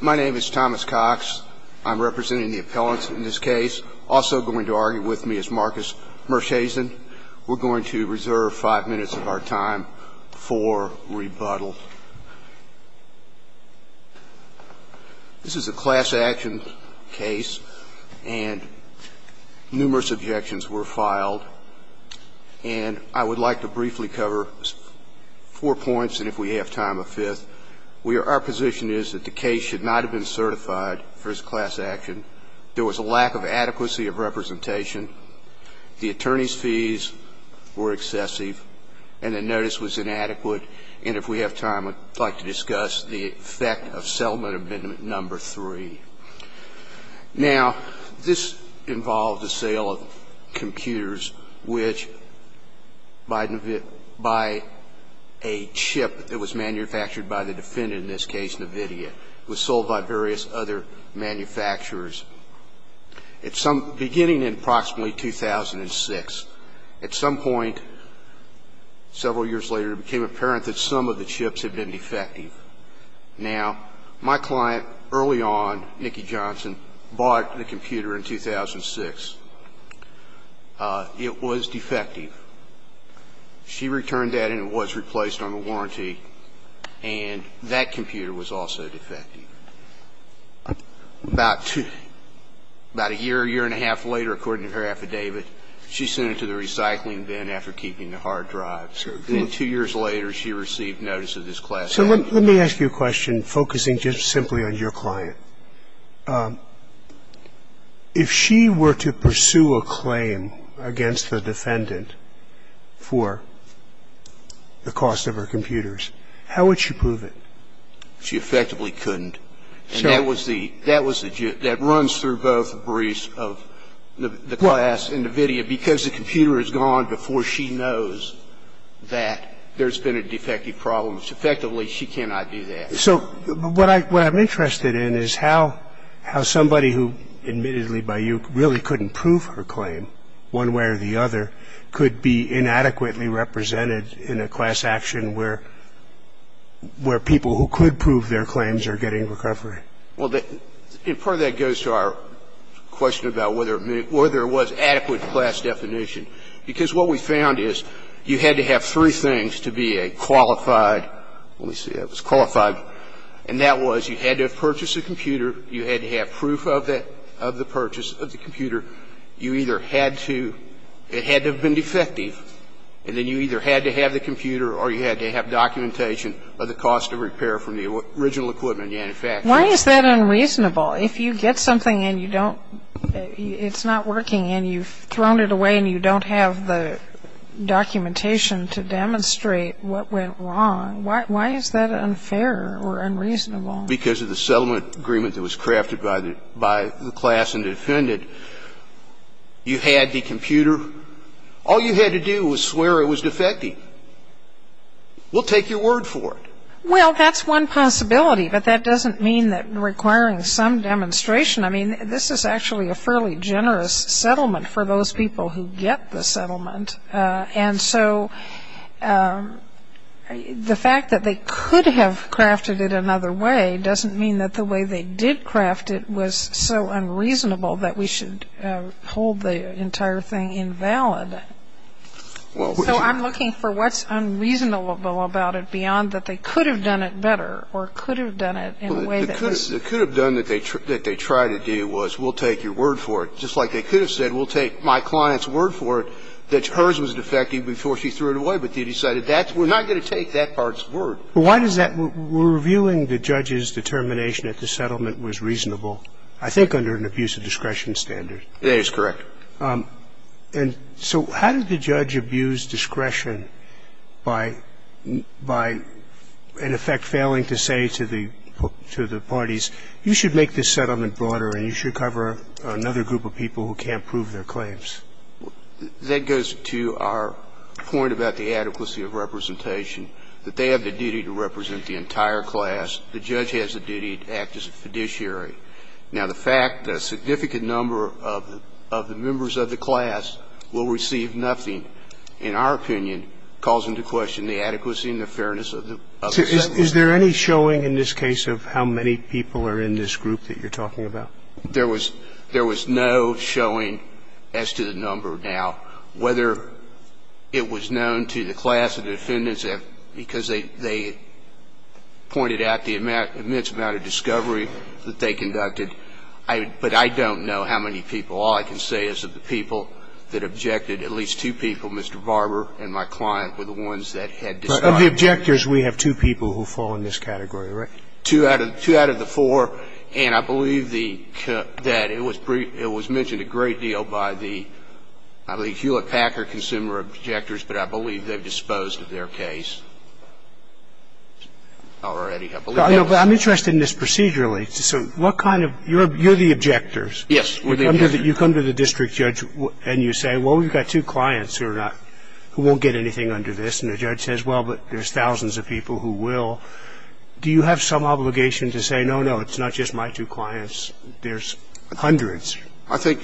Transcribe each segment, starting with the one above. My name is Thomas Cox. I'm representing the appellants in this case. Also going to argue with me is Marcus Mershazen. We're going to reserve five minutes of our time for rebuttal. This is a class action case and numerous objections were filed. And I would like to briefly cover four points, and if we have time, a fifth. Our position is that the case should not have been certified for its class action. There was a lack of adequacy of representation. The attorney's fees were excessive and the notice was inadequate. And if we have time, I'd like to discuss the effect of settlement amendment number three. Now, this involved the sale of computers which, by a chip that was manufactured by the defendant, in this case, nVidia, was sold by various other manufacturers. Beginning in approximately 2006, at some point several years later, it became apparent that some of the chips had been defective. Now, my client, early on, Nikki Johnson, bought the computer in 2006. It was defective. She returned that and it was replaced on the warranty, and that computer was also defective. About a year, year and a half later, according to her affidavit, she sent it to the recycling bin after keeping the hard drive. And then two years later, she received notice of this class action. So let me ask you a question, focusing just simply on your client. If she were to pursue a claim against the defendant for the cost of her computers, how would she prove it? She effectively couldn't. And that was the judge. That runs through both briefs of the class and nVidia because the computer is gone before she knows that there's been a defective problem. So effectively, she cannot do that. So what I'm interested in is how somebody who, admittedly by you, really couldn't prove her claim one way or the other could be inadequately represented in a class action where people who could prove their claims are getting recovery. Well, part of that goes to our question about whether it was adequate class definition. Because what we found is you had to have three things to be a qualified, let me see, it was qualified. And that was you had to have purchased a computer. You had to have proof of that, of the purchase of the computer. You either had to, it had to have been defective. And then you either had to have the computer or you had to have documentation of the cost of repair from the original equipment in the manufacturer. Why is that unreasonable? If you get something and you don't, it's not working and you've thrown it away and you don't have the documentation to demonstrate what went wrong, why is that unfair or unreasonable? Because of the settlement agreement that was crafted by the class and defended, you had the computer. All you had to do was swear it was defective. We'll take your word for it. Well, that's one possibility, but that doesn't mean that requiring some demonstration. I mean, this is actually a fairly generous settlement for those people who get the settlement. And so the fact that they could have crafted it another way doesn't mean that the way they did craft it was so unreasonable that we should hold the entire thing invalid. So I'm looking for what's unreasonable about it beyond that they could have done it better or could have done it in a way that was. They could have done that they tried to do was we'll take your word for it. Just like they could have said we'll take my client's word for it that hers was defective before she threw it away. But they decided that's, we're not going to take that part's word. Why does that, we're reviewing the judge's determination that the settlement was reasonable. I think under an abuse of discretion standard. It is correct. And so how did the judge abuse discretion by in effect failing to say to the parties, you should make this settlement broader and you should cover another group of people who can't prove their claims. That goes to our point about the adequacy of representation. That they have the duty to represent the entire class. The judge has the duty to act as a fiduciary. Now, the fact that a significant number of the members of the class will receive nothing, in our opinion, calls into question the adequacy and the fairness of the settlement. So is there any showing in this case of how many people are in this group that you're talking about? There was no showing as to the number. Now, whether it was known to the class of defendants because they pointed out the immense amount of discovery that they can make, I don't know. But I don't know how many people, all I can say is that the people that objected, at least two people, Mr. Barber and my client, were the ones that had decided. Of the objectors, we have two people who fall in this category, right? Two out of the four. And I believe that it was mentioned a great deal by the Hewlett-Packard consumer objectors, but I believe they've disposed of their case already. I'm interested in this procedurally. You're the objectors. Yes. You come to the district judge and you say, well, we've got two clients who won't get anything under this. And the judge says, well, but there's thousands of people who will. Do you have some obligation to say, no, no, it's not just my two clients, there's hundreds? I think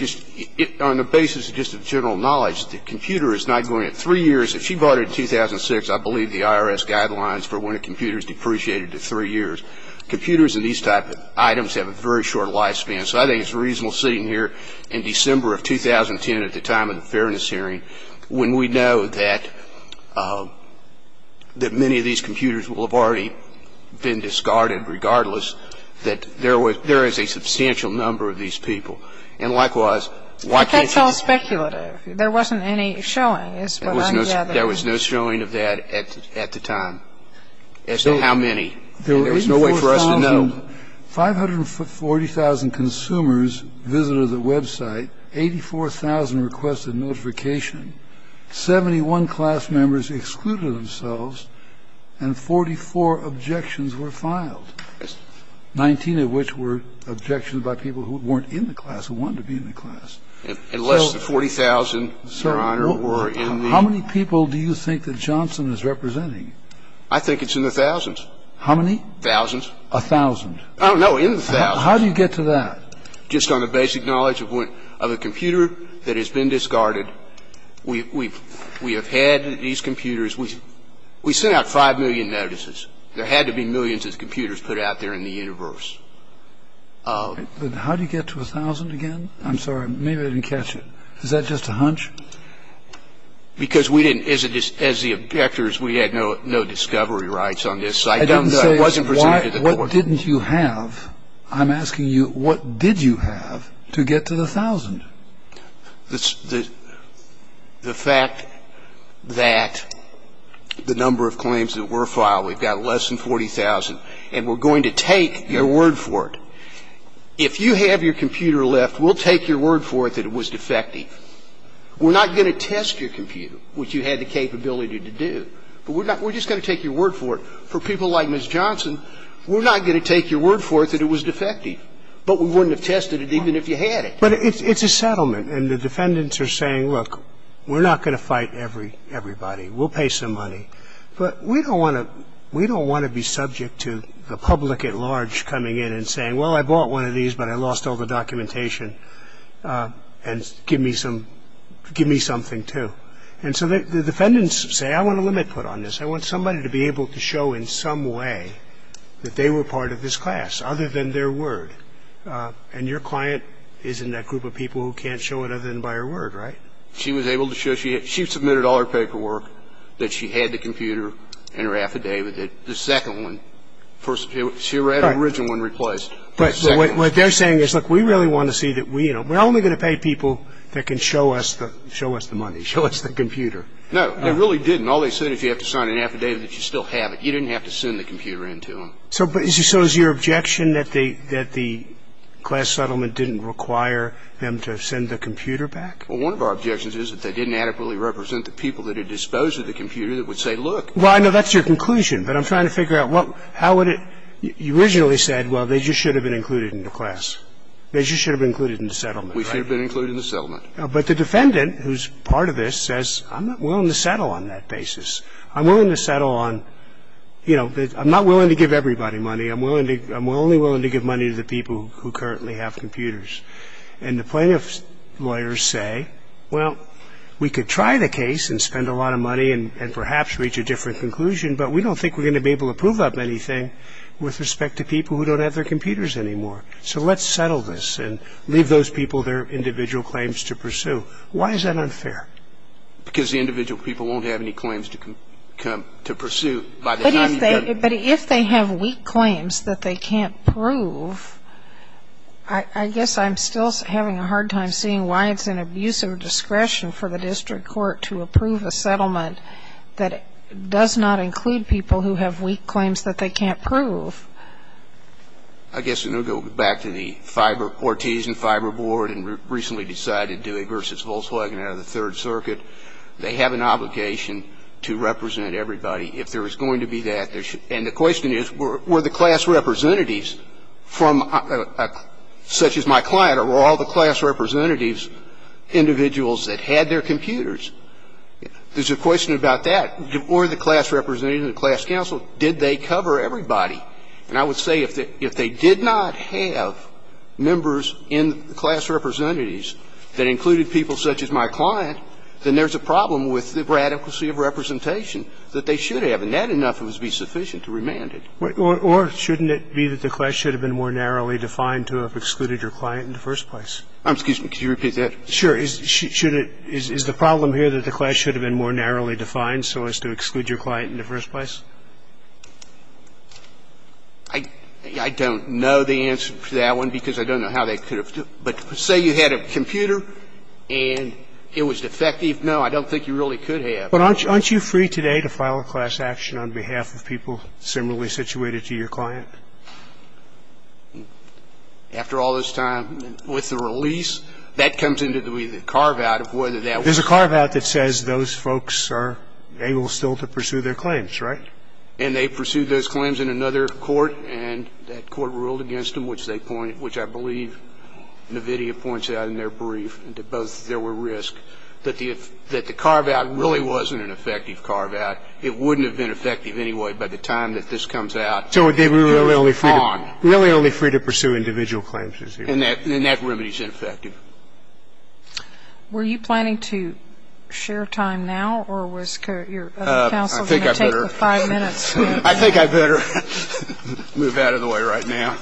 on the basis of just a general knowledge, the computer is not going to three years. If she voted in 2006, I believe the IRS guidelines for when a computer is depreciated to three years. Computers and these type of items have a very short lifespan, so I think it's reasonable sitting here in December of 2010 at the time of the fairness hearing when we know that many of these computers will have already been discarded, regardless that there is a substantial number of these people. And likewise, why can't you? But that's all speculative. There wasn't any showing. There was no showing of that at the time. As to how many. There was no way for us to know. 540,000 consumers visited the website. 84,000 requested notification. 71 class members excluded themselves. And 44 objections were filed. 19 of which were objections by people who weren't in the class, who wanted to be in the class. And less than 40,000, Your Honor, were in the. How many people do you think that Johnson is representing? I think it's in the thousands. How many? Thousands. 1,000. Oh, no, in the thousands. How do you get to that? Just on the basic knowledge of a computer that has been discarded. We have had these computers. We sent out 5 million notices. There had to be millions of computers put out there in the universe. How do you get to 1,000 again? I'm sorry. Maybe I didn't catch it. Is that just a hunch? Because we didn't, as the objectors, we had no discovery rights on this site. I didn't say what didn't you have. I'm asking you, what did you have to get to the 1,000? The fact that the number of claims that were filed, we've got less than 40,000. And we're going to take your word for it. If you have your computer left, we'll take your word for it that it was defective. We're not going to test your computer, which you had the capability to do. But we're just going to take your word for it. For people like Ms. Johnson, we're not going to take your word for it that it was defective. But we wouldn't have tested it even if you had it. But it's a settlement. And the defendants are saying, look, we're not going to fight everybody. We'll pay some money. But we don't want to be subject to the public at large coming in and saying, well, I bought one of these, but I lost all the documentation. And give me something, too. And so the defendants say, I want a limit put on this. I want somebody to be able to show in some way that they were part of this class, other than their word. And your client is in that group of people who can't show it other than by her word, right? She was able to show. She submitted all her paperwork, that she had the computer and her affidavit. The second one, she had the original one replaced. But what they're saying is, look, we really want to see that we, you know, we're only going to pay people that can show us the money, show us the computer. No, they really didn't. All they said is you have to sign an affidavit that you still have it. You didn't have to send the computer in to them. So is your objection that the class settlement didn't require them to send the computer back? Well, one of our objections is that they didn't adequately represent the people that had disposed of the computer that would say, look. Well, I know that's your conclusion, but I'm trying to figure out what, how would it, you originally said, well, they just should have been included in the class. They just should have been included in the settlement, right? We should have been included in the settlement. But the defendant, who's part of this, says, I'm not willing to settle on that basis. I'm willing to settle on, you know, I'm not willing to give everybody money. I'm willing to, I'm only willing to give money to the people who currently have computers. And the plaintiff's lawyers say, well, we could try the case and spend a lot of money and perhaps reach a different conclusion, but we don't think we're going to be able to prove up anything with respect to people who don't have their computers anymore. So let's settle this and leave those people their individual claims to pursue. Why is that unfair? Because the individual people won't have any claims to pursue. But if they have weak claims that they can't prove, I guess I'm still having a hard time seeing why it's an abuse of discretion for the district court to approve a settlement that does not include people who have weak claims that they can't prove. I guess, and we'll go back to the Fiber, Ortiz and Fiber Board, and recently decided to do a versus Volkswagen out of the Third Circuit. They have an obligation to represent everybody. If there is going to be that, there should. And the question is, were the class representatives from, such as my client, or were all the class representatives individuals that had their computers? There's a question about that. Were the class representatives, the class counsel, did they cover everybody? And I would say if they did not have members in the class representatives that included people such as my client, then there's a problem with the radicalcy of representation that they should have. And that enough would be sufficient to remand it. Or shouldn't it be that the class should have been more narrowly defined to have excluded your client in the first place? Excuse me. Could you repeat that? Sure. Is the problem here that the class should have been more narrowly defined so as to exclude your client in the first place? I don't know the answer to that one because I don't know how they could have. But say you had a computer and it was defective. No, I don't think you really could have. But aren't you free today to file a class action on behalf of people similarly situated to your client? After all this time with the release, that comes into the carve-out of whether that was. There's a carve-out that says those folks are able still to pursue their claims, right? And they pursued those claims in another court, and that court ruled against them, which I believe NVIDIA points out in their brief that both there were risks, that the carve-out really wasn't an effective carve-out. It wouldn't have been effective anyway by the time that this comes out. So they were really only free to pursue individual claims. And that remedy is ineffective. Were you planning to share time now, or was your counsel going to take the five minutes? I think I better move out of the way right now.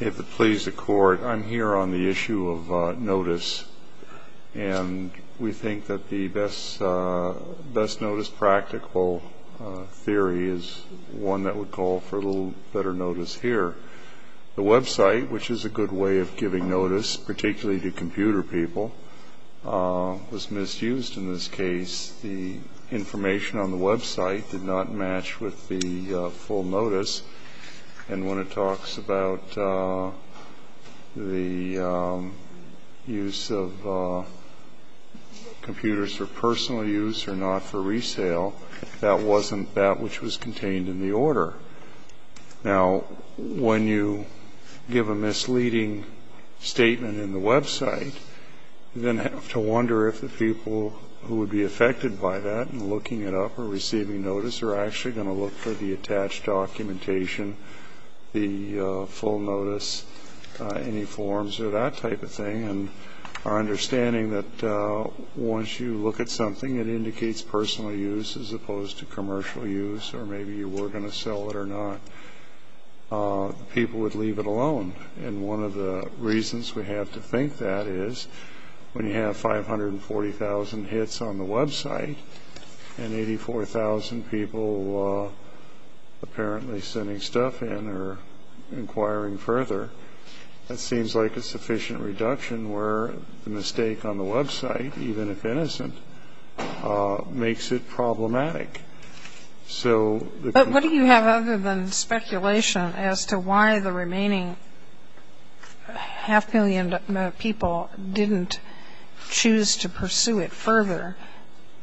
If it please the Court, I'm here on the issue of notice. And we think that the best notice practical theory is one that would call for a little better notice here. The website, which is a good way of giving notice, particularly to computer people, was misused in this case. The information on the website did not match with the full notice. And when it talks about the use of computers for personal use or not for resale, that wasn't that which was contained in the order. Now, when you give a misleading statement in the website, you then have to wonder if the people who would be affected by that, in looking it up or receiving notice, are actually going to look for the attached documentation, the full notice, any forms, or that type of thing. And our understanding that once you look at something, it indicates personal use as opposed to commercial use, or maybe you were going to sell it or not. People would leave it alone. And one of the reasons we have to think that is, when you have 540,000 hits on the website, and 84,000 people apparently sending stuff in or inquiring further, that seems like a sufficient reduction where the mistake on the website, even if innocent, makes it problematic. So... But what do you have other than speculation as to why the remaining half million people didn't choose to pursue it further?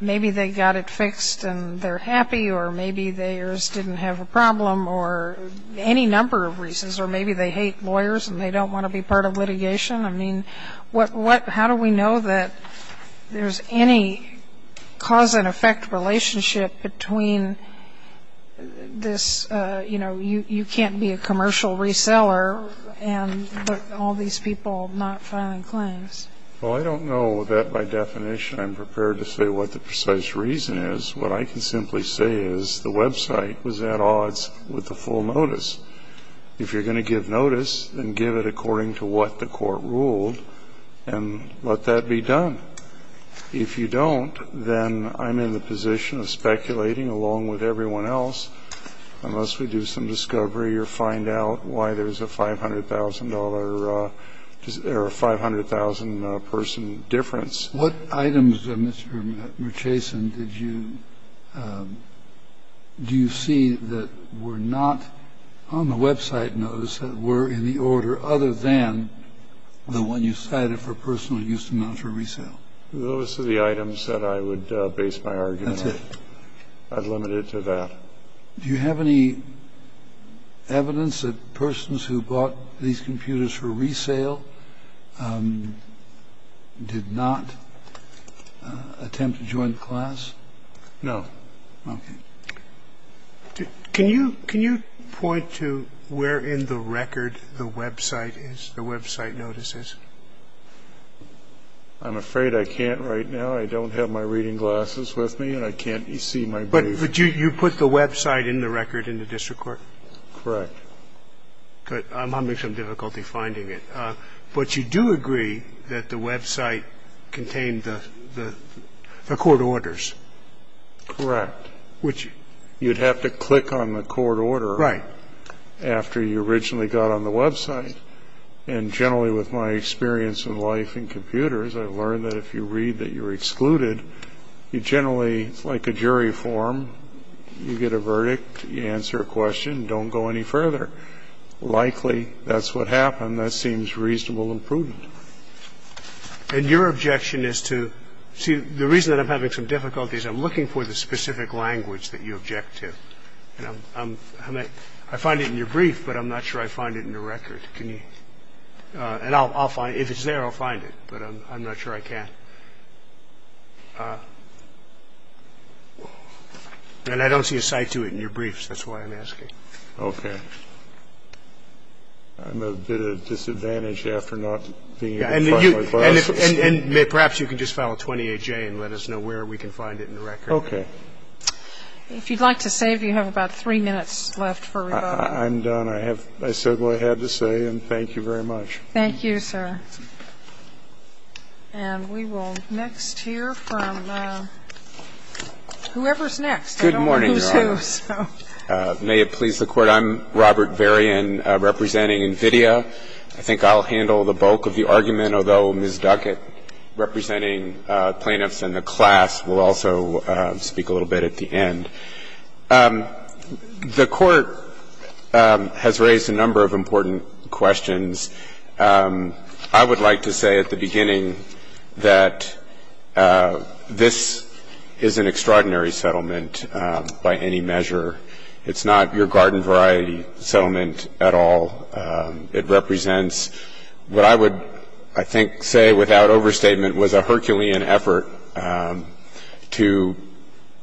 Maybe they got it fixed and they're happy, or maybe theirs didn't have a problem, or any number of reasons. Or maybe they hate lawyers and they don't want to be part of litigation. I mean, how do we know that there's any cause-and-effect relationship between this, you know, you can't be a commercial reseller and all these people not filing claims? Well, I don't know that by definition I'm prepared to say what the precise reason is. What I can simply say is the website was at odds with the full notice. If you're going to give notice, then give it according to what the court ruled and let that be done. If you don't, then I'm in the position of speculating along with everyone else unless we do some discovery or find out why there's a $500,000, or a 500,000 person difference. What items, Mr. Murchison, did you see that were not on the website notice that were in the order other than the one you cited for personal use and not for resale? Those are the items that I would base my argument on. That's it. I'd limit it to that. Do you have any evidence that persons who bought these computers for resale did not attempt to join the class? No. Okay. Can you point to where in the record the website is, the website notice is? I'm afraid I can't right now. I don't have my reading glasses with me and I can't see my briefcase. But you put the website in the record in the district court? Correct. Good. I'm having some difficulty finding it. But you do agree that the website contained the court orders? Correct. Which you'd have to click on the court order. Right. After you originally got on the website. And generally with my experience in life in computers, I've learned that if you read that you're excluded, you generally, like a jury form, you get a verdict, you answer a question, don't go any further. Likely that's what happened. And that seems reasonable and prudent. And your objection is to, see, the reason that I'm having some difficulty is I'm looking for the specific language that you object to. I find it in your brief, but I'm not sure I find it in the record. And if it's there, I'll find it. But I'm not sure I can. And I don't see a site to it in your briefs, that's why I'm asking. Okay. I'm a bit at a disadvantage after not being able to find my file. And perhaps you can just file a 28-J and let us know where we can find it in the record. Okay. If you'd like to save, you have about three minutes left for rebuttal. I'm done. I said what I had to say, and thank you very much. Thank you, sir. And we will next hear from whoever's next. Good morning, Your Honor. I don't know who's who, so. May it please the Court. I'm Robert Varian, representing NVIDIA. I think I'll handle the bulk of the argument, although Ms. Duckett, representing plaintiffs in the class, will also speak a little bit at the end. The Court has raised a number of important questions. I would like to say at the beginning that this is an extraordinary settlement by any measure. It's not your garden variety settlement at all. It represents what I would, I think, say without overstatement, was a Herculean effort to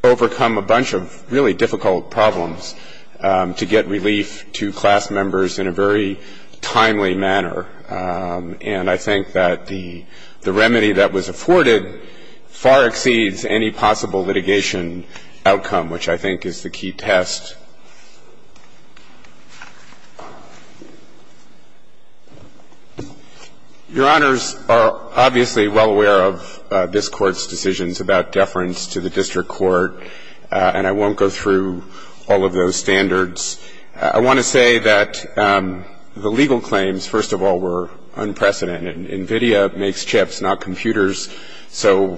overcome a bunch of really difficult problems to get relief to class members in a very timely manner. And I think that the remedy that was afforded far exceeds any possible litigation outcome, which I think is the key test. Your Honors are obviously well aware of this Court's decisions about deference to the district court, and I won't go through all of those standards. I want to say that the legal claims, first of all, were unprecedented. NVIDIA makes chips, not computers, so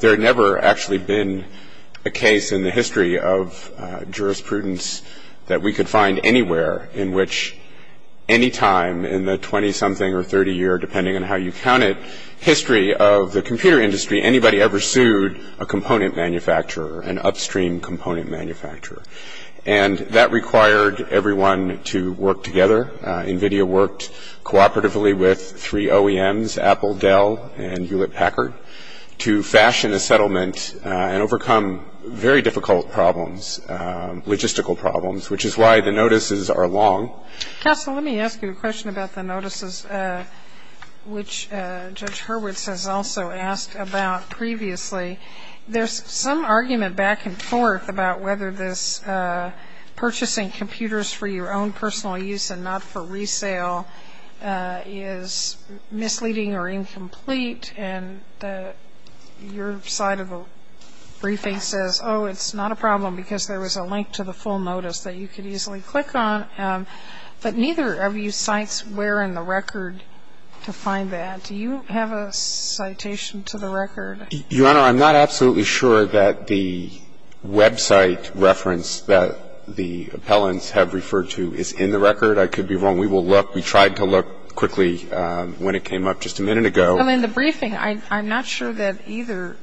there had never actually been a case in the history of jurisprudence that we could find anywhere in which any time in the 20-something or 30-year, depending on how you count it, history of the computer industry, anybody ever sued a component manufacturer, an upstream component manufacturer. And that required everyone to work together. NVIDIA worked cooperatively with three OEMs, Apple, Dell, and Hewlett-Packard, to fashion a settlement and overcome very difficult problems, logistical problems, which is why the notices are long. Counsel, let me ask you a question about the notices, which Judge Hurwitz has also asked about previously. There's some argument back and forth about whether this purchasing computers for your own personal use and not for resale is misleading or incomplete, and your side of the briefing says, oh, it's not a problem because there was a link to the full notice that you could easily click on. But neither of you cites where in the record to find that. Do you have a citation to the record? Your Honor, I'm not absolutely sure that the website reference that the appellants have referred to is in the record. I could be wrong. We will look. We tried to look quickly when it came up just a minute ago. Well, in the briefing, I'm not sure that either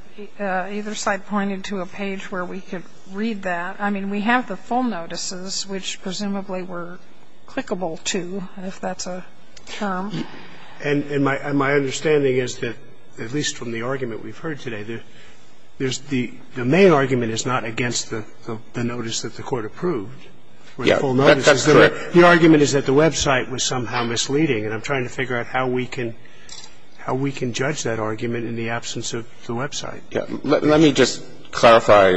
side pointed to a page where we could read that. I mean, we have the full notices, which presumably were clickable to, if that's a term. And my understanding is that, at least from the argument we've heard today, the main argument is not against the notice that the Court approved. The argument is that the website was somehow misleading, and I'm trying to figure out how we can judge that argument in the absence of the website. Let me just clarify,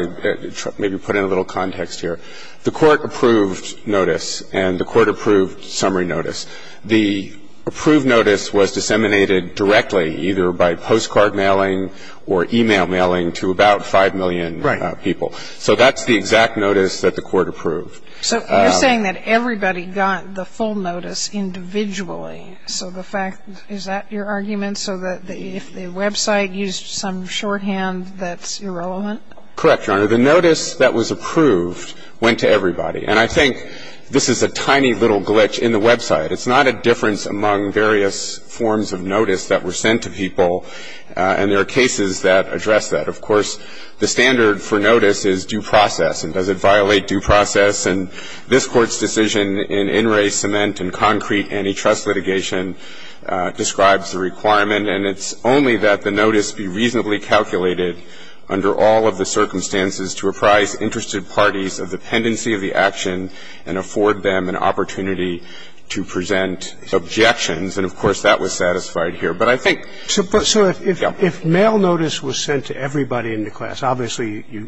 maybe put in a little context here. The Court approved notice, and the Court approved summary notice. The approved notice was disseminated directly, either by postcard mailing or e-mail mailing, to about 5 million people. So that's the exact notice that the Court approved. So you're saying that everybody got the full notice individually. So the fact, is that your argument? So that if the website used some shorthand, that's irrelevant? Correct, Your Honor. The notice that was approved went to everybody. And I think this is a tiny little glitch in the website. It's not a difference among various forms of notice that were sent to people, and there are cases that address that. Of course, the standard for notice is due process, and does it violate due process? And this Court's decision in in-ray cement and concrete antitrust litigation describes the requirement, and it's only that the notice be reasonably calculated under all of the circumstances to apprise interested parties of the pendency of the action and afford them an opportunity to present objections. And of course, that was satisfied here. So if mail notice was sent to everybody in the class, obviously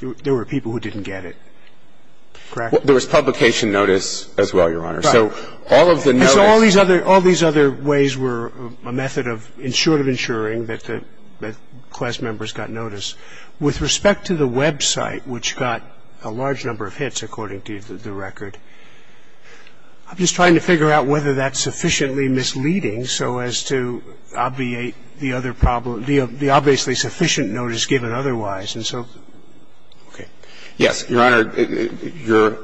there were people who didn't get it, correct? There was publication notice as well, Your Honor. So all of the notice... So all these other ways were a method of ensuring that the class members got notice. With respect to the website, which got a large number of hits, according to the record, I'm just trying to figure out whether that's sufficiently misleading so as to obviate the other problem, the obviously sufficient notice given otherwise. And so, okay. Yes, Your Honor, you're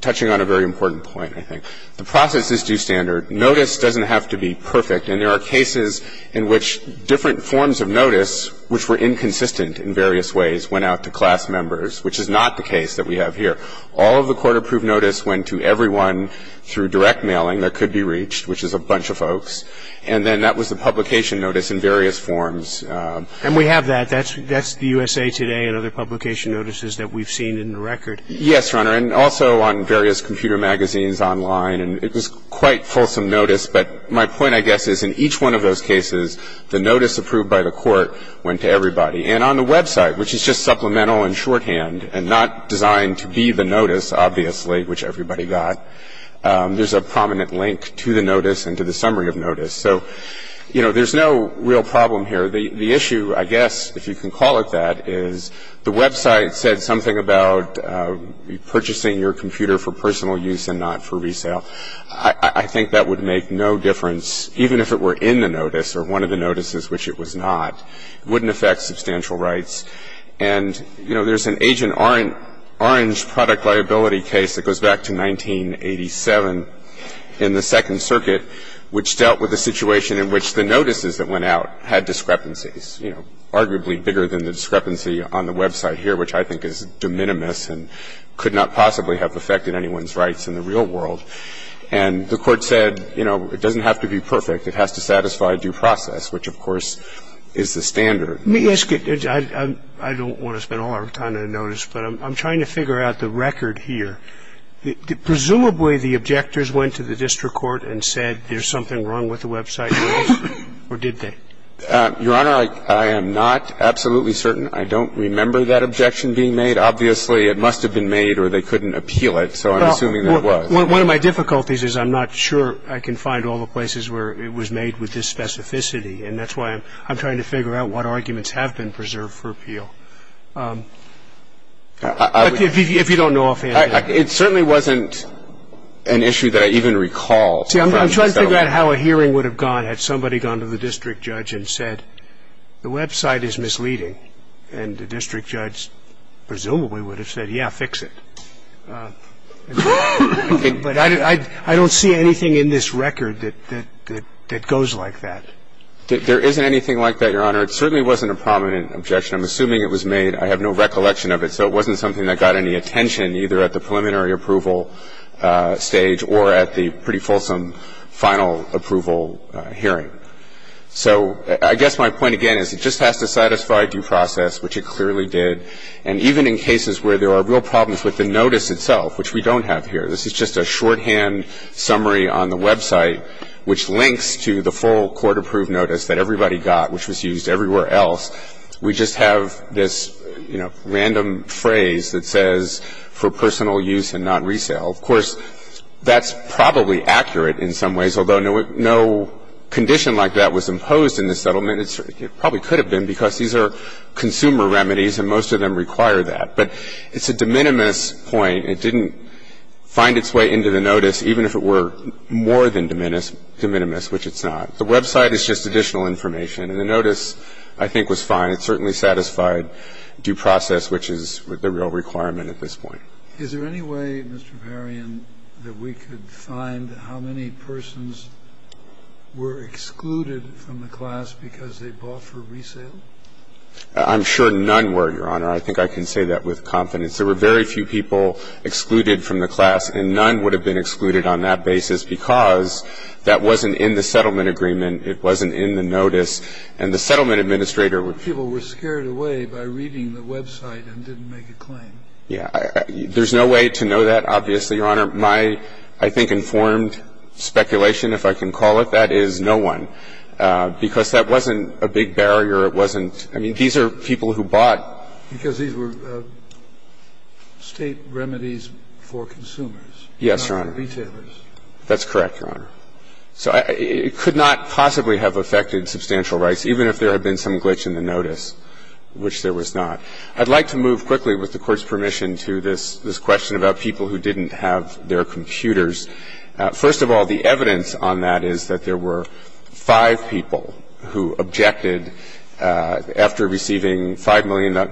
touching on a very important point, I think. The process is due standard. Notice doesn't have to be perfect, and there are cases in which different forms of notice, which were inconsistent in various ways, went out to class members, which is not the case that we have here. All of the court-approved notice went to everyone through direct mailing that could be reached, which is a bunch of folks. And then that was the publication notice in various forms. And we have that. That's the USA Today and other publication notices that we've seen in the record. Yes, Your Honor, and also on various computer magazines online, and it was quite fulsome notice. But my point, I guess, is in each one of those cases, the notice approved by the court went to everybody. And on the website, which is just supplemental and shorthand and not designed to be the notice, obviously, which everybody got, there's a prominent link to the notice and to the summary of notice. So, you know, there's no real problem here. The issue, I guess, if you can call it that, is the website said something about purchasing your computer for personal use and not for resale. I think that would make no difference, even if it were in the notice or one of the notices, which it was not. It wouldn't affect substantial rights. And, you know, there's an Agent Orange product liability case that goes back to 1987 in the Second Circuit, which dealt with a situation in which the notices that went out had discrepancies, you know, arguably bigger than the discrepancy on the website here, which I think is de minimis and could not possibly have affected anyone's rights in the real world. And the court said, you know, it doesn't have to be perfect. It has to satisfy due process, which, of course, is the standard. Let me ask you. I don't want to spend all our time on notice, but I'm trying to figure out the record here. Presumably the objectors went to the district court and said there's something wrong with the website notice, or did they? Your Honor, I am not absolutely certain. I don't remember that objection being made. Obviously, it must have been made or they couldn't appeal it, so I'm assuming that it was. One of my difficulties is I'm not sure I can find all the places where it was made with this specificity, and that's why I'm trying to figure out what arguments have been preserved for appeal. If you don't know offhand. It certainly wasn't an issue that I even recall. See, I'm trying to figure out how a hearing would have gone had somebody gone to the district judge and said the website is misleading, and the district judge presumably would have said, yeah, fix it. But I don't see anything in this record that goes like that. There isn't anything like that, Your Honor. It certainly wasn't a prominent objection. I'm assuming it was made. I have no recollection of it, so it wasn't something that got any attention either at the preliminary approval stage or at the pretty fulsome final approval hearing. So I guess my point again is it just has to satisfy due process, which it clearly did, and even in cases where there are real problems with the notice itself, which we don't have here. This is just a shorthand summary on the website, which links to the full court-approved notice that everybody got, which was used everywhere else. We just have this, you know, random phrase that says, for personal use and not resale. Of course, that's probably accurate in some ways, although no condition like that was imposed in this settlement. It probably could have been because these are consumer remedies, and most of them require that. But it's a de minimis point. It didn't find its way into the notice, even if it were more than de minimis, which it's not. The website is just additional information, and the notice, I think, was fine. It certainly satisfied due process, which is the real requirement at this point. Is there any way, Mr. Varian, that we could find how many persons were excluded from the class because they bought for resale? I'm sure none were, Your Honor. I think I can say that with confidence. There were very few people excluded from the class, and none would have been excluded on that basis because that wasn't in the settlement agreement. It wasn't in the notice. And the settlement administrator would be able to do that. People were scared away by reading the website and didn't make a claim. Yeah. There's no way to know that, obviously, Your Honor. My, I think, informed speculation, if I can call it that, is no one. Because that wasn't a big barrier. It wasn't. I mean, these are people who bought. Because these were State remedies for consumers. Yes, Your Honor. Not for retailers. That's correct, Your Honor. So it could not possibly have affected substantial rights, even if there had been some glitch in the notice, which there was not. I'd like to move quickly, with the Court's permission, to this question about people who didn't have their computers. First of all, the evidence on that is that there were five people who objected after receiving 5 million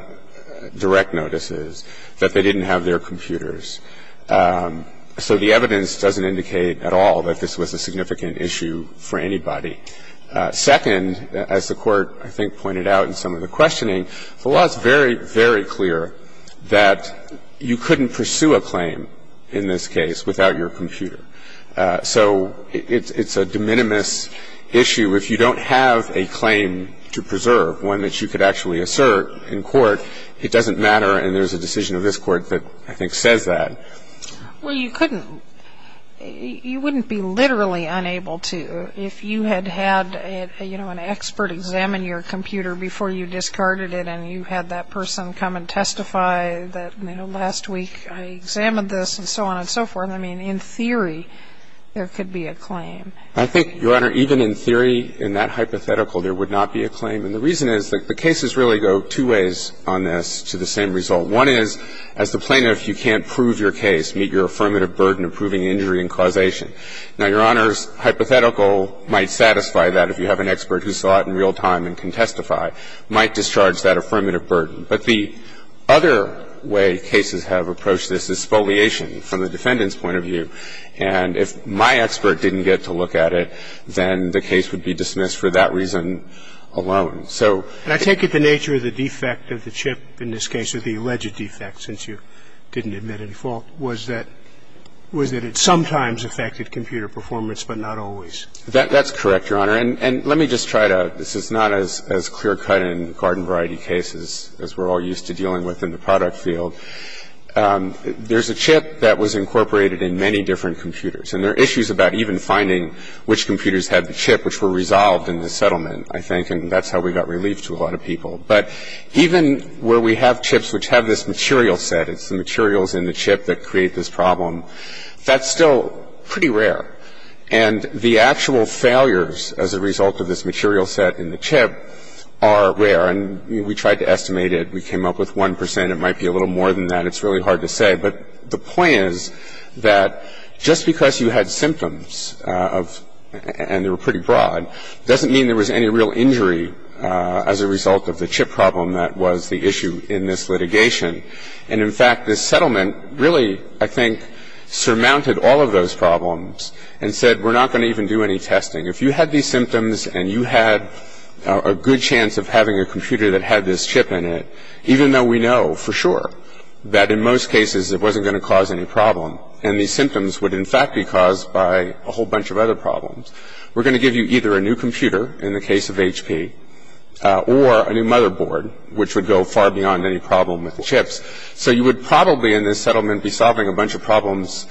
direct notices that they didn't have their computers. So the evidence doesn't indicate at all that this was a significant issue for anybody. Second, as the Court, I think, pointed out in some of the questioning, the law is very, very clear that you couldn't pursue a claim in this case without your computer. So it's a de minimis issue. If you don't have a claim to preserve, one that you could actually assert in court, it doesn't matter, and there's a decision of this Court that I think says that. Well, you couldn't. You wouldn't be literally unable to if you had had, you know, an expert examine your computer before you discarded it and you had that person come and testify that, you know, last week I examined this and so on and so forth. I mean, in theory, there could be a claim. I think, Your Honor, even in theory, in that hypothetical, there would not be a claim. And the reason is that the cases really go two ways on this to the same result. One is, as the plaintiff, you can't prove your case, meet your affirmative burden of proving injury and causation. Now, Your Honor's hypothetical might satisfy that if you have an expert who saw it in real time and can testify, might discharge that affirmative burden. But the other way cases have approached this is spoliation from the defendant's point of view. And if my expert didn't get to look at it, then the case would be dismissed for that reason alone. So ---- And I take it the nature of the defect of the chip in this case, or the alleged defect, since you didn't admit any fault, was that it sometimes affected computer performance but not always. That's correct, Your Honor. And let me just try to ---- this is not as clear cut in garden variety cases as we're all used to dealing with in the product field. There's a chip that was incorporated in many different computers. And there are issues about even finding which computers had the chip which were resolved in the settlement, I think. And that's how we got relief to a lot of people. But even where we have chips which have this material set, it's the materials in the chip that create this problem, that's still pretty rare. And the actual failures as a result of this material set in the chip are rare. And we tried to estimate it. We came up with 1 percent. It might be a little more than that. It's really hard to say. But the point is that just because you had symptoms of ---- and they were pretty broad doesn't mean there was any real injury as a result of the chip problem that was the issue in this litigation. And, in fact, this settlement really, I think, surmounted all of those problems and said we're not going to even do any testing. If you had these symptoms and you had a good chance of having a computer that had this chip in it, even though we know for sure that in most cases it wasn't going to cause any problem and these symptoms would, in fact, be caused by a whole new chip, it would give you either a new computer, in the case of HP, or a new motherboard, which would go far beyond any problem with the chips. So you would probably in this settlement be solving a bunch of problems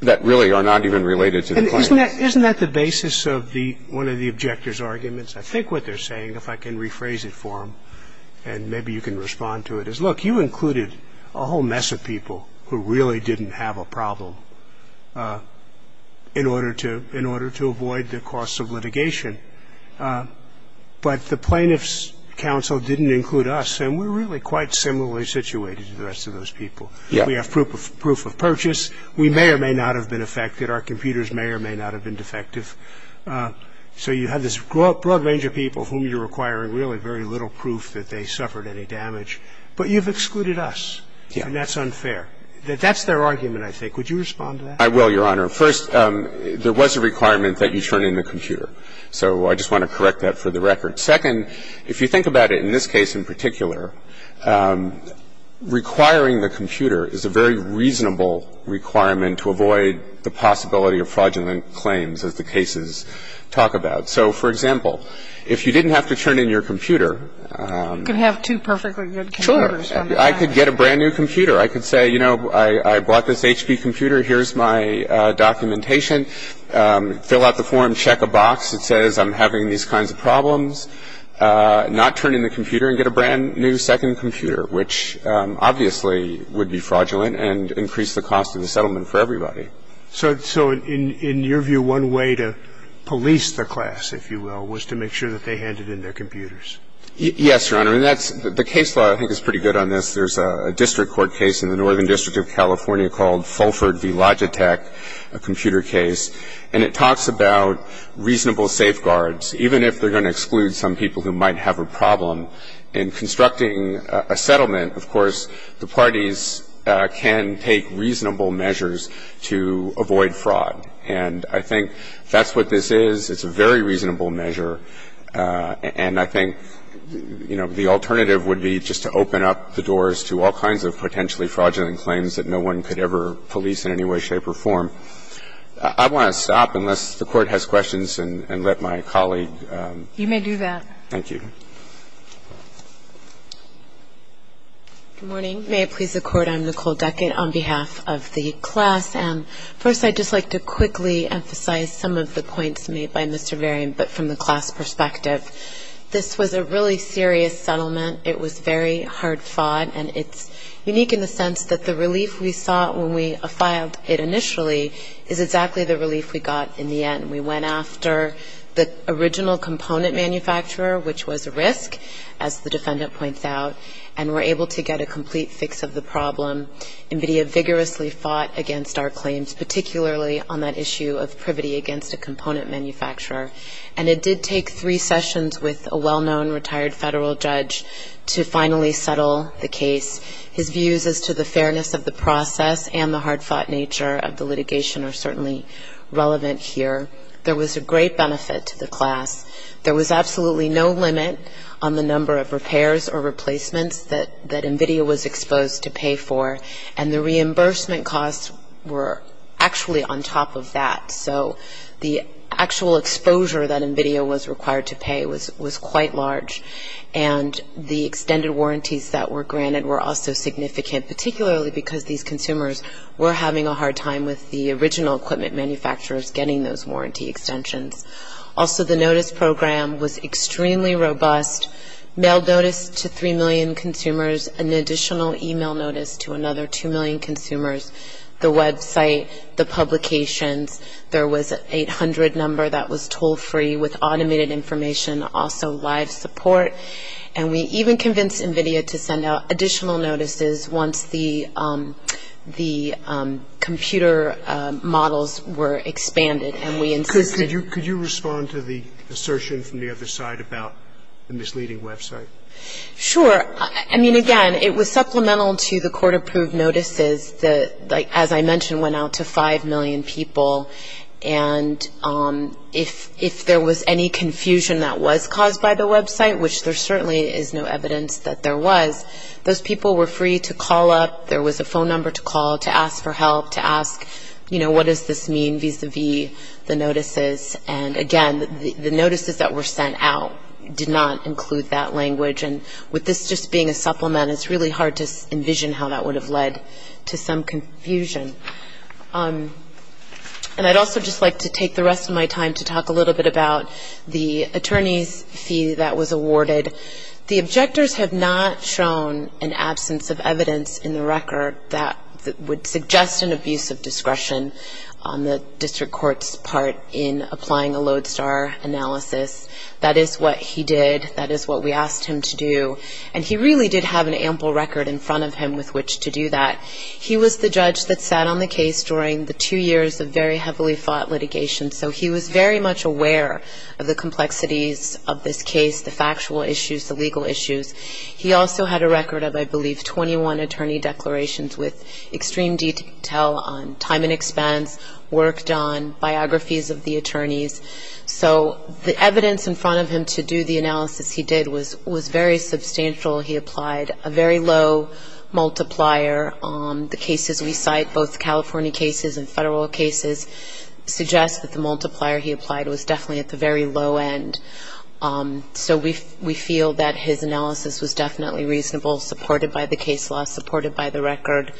that really are not even related to the claim. Isn't that the basis of one of the objectors' arguments? I think what they're saying, if I can rephrase it for them, and maybe you can respond to it, is, look, you included a whole mess of people who really didn't have a problem in order to avoid the costs of litigation. But the plaintiff's counsel didn't include us, and we're really quite similarly situated to the rest of those people. We have proof of purchase. We may or may not have been affected. Our computers may or may not have been defective. So you have this broad range of people whom you're requiring really very little proof that they suffered any damage. But you've excluded us, and that's unfair. That's their argument, I think. Would you respond to that? I will, Your Honor. First, there was a requirement that you turn in the computer. So I just want to correct that for the record. Second, if you think about it, in this case in particular, requiring the computer is a very reasonable requirement to avoid the possibility of fraudulent claims, as the cases talk about. So, for example, if you didn't have to turn in your computer. You could have two perfectly good computers. Sure. I could get a brand-new computer. I could say, you know, I bought this HP computer. Here's my documentation. Fill out the form. Check a box. It says I'm having these kinds of problems. Not turn in the computer and get a brand-new second computer, which obviously would be fraudulent and increase the cost of the settlement for everybody. So in your view, one way to police the class, if you will, was to make sure that they handed in their computers? Yes, Your Honor. And that's the case law I think is pretty good on this. There's a district court case in the Northern District of California called Fulford v. Logitech, a computer case. And it talks about reasonable safeguards, even if they're going to exclude some people who might have a problem in constructing a settlement. Of course, the parties can take reasonable measures to avoid fraud. And I think that's what this is. It's a very reasonable measure. And I think, you know, the alternative would be just to open up the doors to all kinds of potentially fraudulent claims that no one could ever police in any way, shape, or form. I want to stop unless the Court has questions and let my colleague. You may do that. Thank you. Good morning. May it please the Court. I'm Nicole Duckett on behalf of the class. First, I'd just like to quickly emphasize some of the points made by Mr. Varian, but from the class perspective. This was a really serious settlement. It was very hard fought. And it's unique in the sense that the relief we saw when we filed it initially is exactly the relief we got in the end. We went after the original component manufacturer, which was a risk, as the defendant points out, and were able to get a complete fix of the problem. NVIDIA vigorously fought against our claims, particularly on that issue of privity against a component manufacturer. And it did take three sessions with a well-known retired federal judge to finally settle the case. His views as to the fairness of the process and the hard-fought nature of the litigation are certainly relevant here. There was a great benefit to the class. There was absolutely no limit on the number of repairs or replacements that NVIDIA was exposed to pay for. And the reimbursement costs were actually on top of that. So the actual exposure that NVIDIA was required to pay was quite large. And the extended warranties that were granted were also significant, particularly because these consumers were having a hard time with the original equipment manufacturers getting those warranty extensions. Also, the notice program was extremely robust. Mail notice to 3 million consumers, an additional e-mail notice to another 2 million consumers, the website, the publications. There was an 800 number that was toll-free with automated information, also live support. And we even convinced NVIDIA to send out additional notices once the computer models were expanded. And we insisted... Sure. I mean, again, it was supplemental to the court-approved notices that, as I mentioned, went out to 5 million people. And if there was any confusion that was caused by the website, which there certainly is no evidence that there was, those people were free to call up. There was a phone number to call to ask for help, to ask, you know, what does this mean vis-à-vis the notices. And, again, the notices that were sent out did not include that language. And with this just being a supplement, it's really hard to envision how that would have led to some confusion. And I'd also just like to take the rest of my time to talk a little bit about the attorney's fee that was awarded. The objectors have not shown an absence of evidence in the record that would apply a Lodestar analysis. That is what he did. That is what we asked him to do. And he really did have an ample record in front of him with which to do that. He was the judge that sat on the case during the two years of very heavily fought litigation. So he was very much aware of the complexities of this case, the factual issues, the legal issues. He also had a record of, I believe, 21 attorney declarations with extreme detail on time and expense, worked on biographies of the attorneys. So the evidence in front of him to do the analysis he did was very substantial. He applied a very low multiplier. The cases we cite, both California cases and federal cases, suggest that the multiplier he applied was definitely at the very low end. So we feel that his analysis was definitely reasonable, supported by the case law, supported by the record.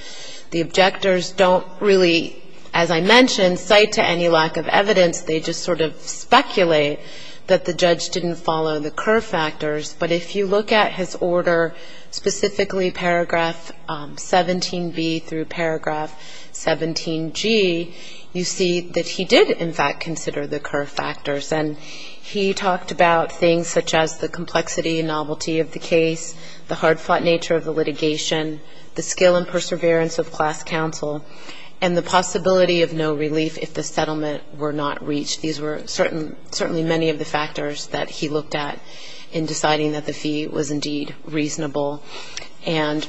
The objectors don't really, as I mentioned, cite to any lack of evidence. They just sort of speculate that the judge didn't follow the curve factors. But if you look at his order, specifically paragraph 17b through paragraph 17g, you see that he did, in fact, consider the curve factors. And he talked about things such as the complexity and novelty of the case, the hard-fought nature of the litigation, the skill and perseverance of class counsel, and the possibility of no relief if the settlement were not reached. These were certainly many of the factors that he looked at in deciding that the fee was indeed reasonable. And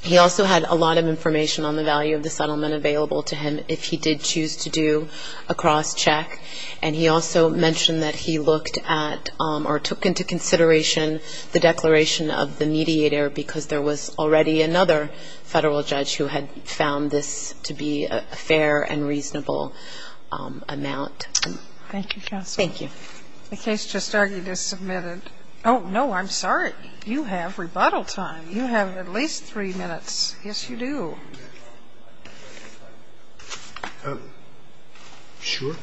he also had a lot of information on the value of the settlement available to him if he did choose to do a cross-check. And he also mentioned that he looked at or took into consideration the declaration of the mediator because there was already another Federal judge who had found this to be a fair and reasonable amount. Thank you, counsel. Thank you. The case just argued is submitted. Oh, no, I'm sorry. You have rebuttal time. You have at least three minutes. Yes, you do. Oh, sure.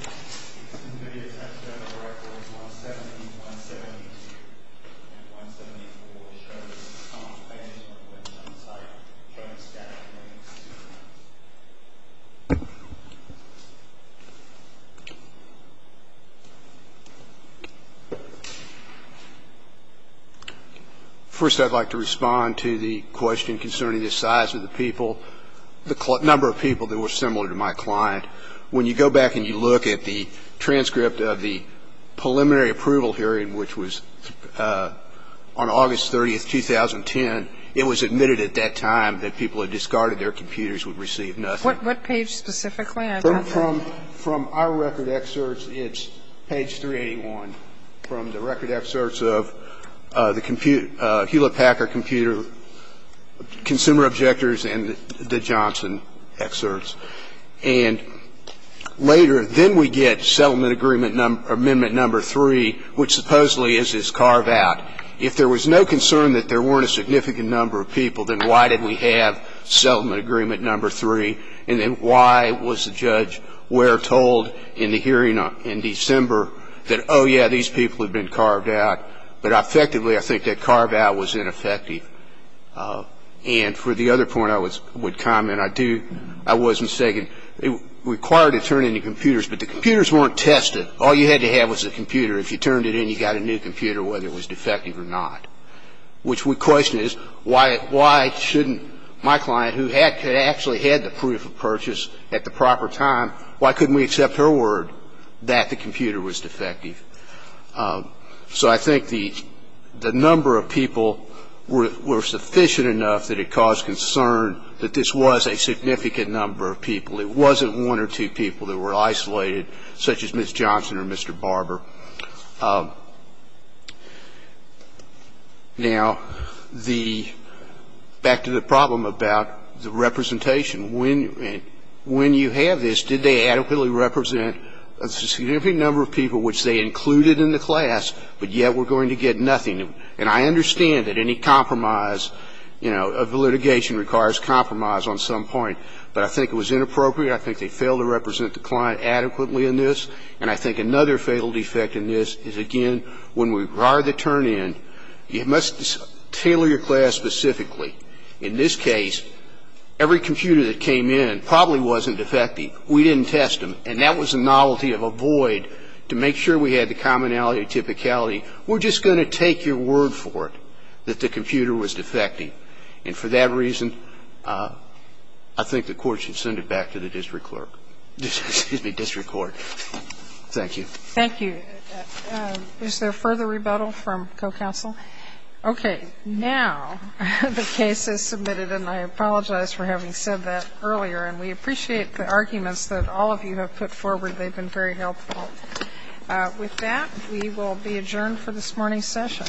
First, I'd like to respond to the question concerning the size of the people, the number of people that were similar to my client. When you go back and you look at the transcript of the preliminary approval hearing, which was on August 30th, 2010, it was admitted at that time that people had discarded their computers, would receive nothing. What page specifically? From our record excerpts, it's page 381. From the record excerpts of the Hewlett-Packard Computer Consumer Objectors and the Johnson excerpts. And later, then we get settlement amendment number three, which supposedly is this carve-out. If there was no concern that there weren't a significant number of people, then why did we have settlement agreement number three? And then why was the judge, where told in the hearing in December, that, oh, yeah, these people have been carved out, but effectively I think that carve-out was ineffective? And for the other point I would comment, I do, I was mistaken. It required to turn in your computers, but the computers weren't tested. All you had to have was a computer. If you turned it in, you got a new computer, whether it was defective or not, which we question is why shouldn't my client, who had actually had the proof of purchase at the proper time, why couldn't we accept her word that the computer was defective? So I think the number of people were sufficient enough that it caused concern that this was a significant number of people. It wasn't one or two people that were isolated, such as Ms. Johnson or Mr. Barber. Now, the, back to the problem about the representation. When you have this, did they adequately represent a significant number of people which they included in the class, but yet were going to get nothing? And I understand that any compromise, you know, of litigation requires compromise on some point, but I think it was inappropriate. I think they failed to represent the client adequately in this. And I think another fatal defect in this is, again, when we require the turn-in, you must tailor your class specifically. In this case, every computer that came in probably wasn't defective. We didn't test them. And that was the novelty of a void to make sure we had the commonality and typicality. We're just going to take your word for it that the computer was defective. And for that reason, I think the Court should send it back to the district clerk, excuse me, district court. Thank you. Thank you. Is there further rebuttal from co-counsel? Okay. Now the case is submitted, and I apologize for having said that earlier. And we appreciate the arguments that all of you have put forward. They've been very helpful. With that, we will be adjourned for this morning's session.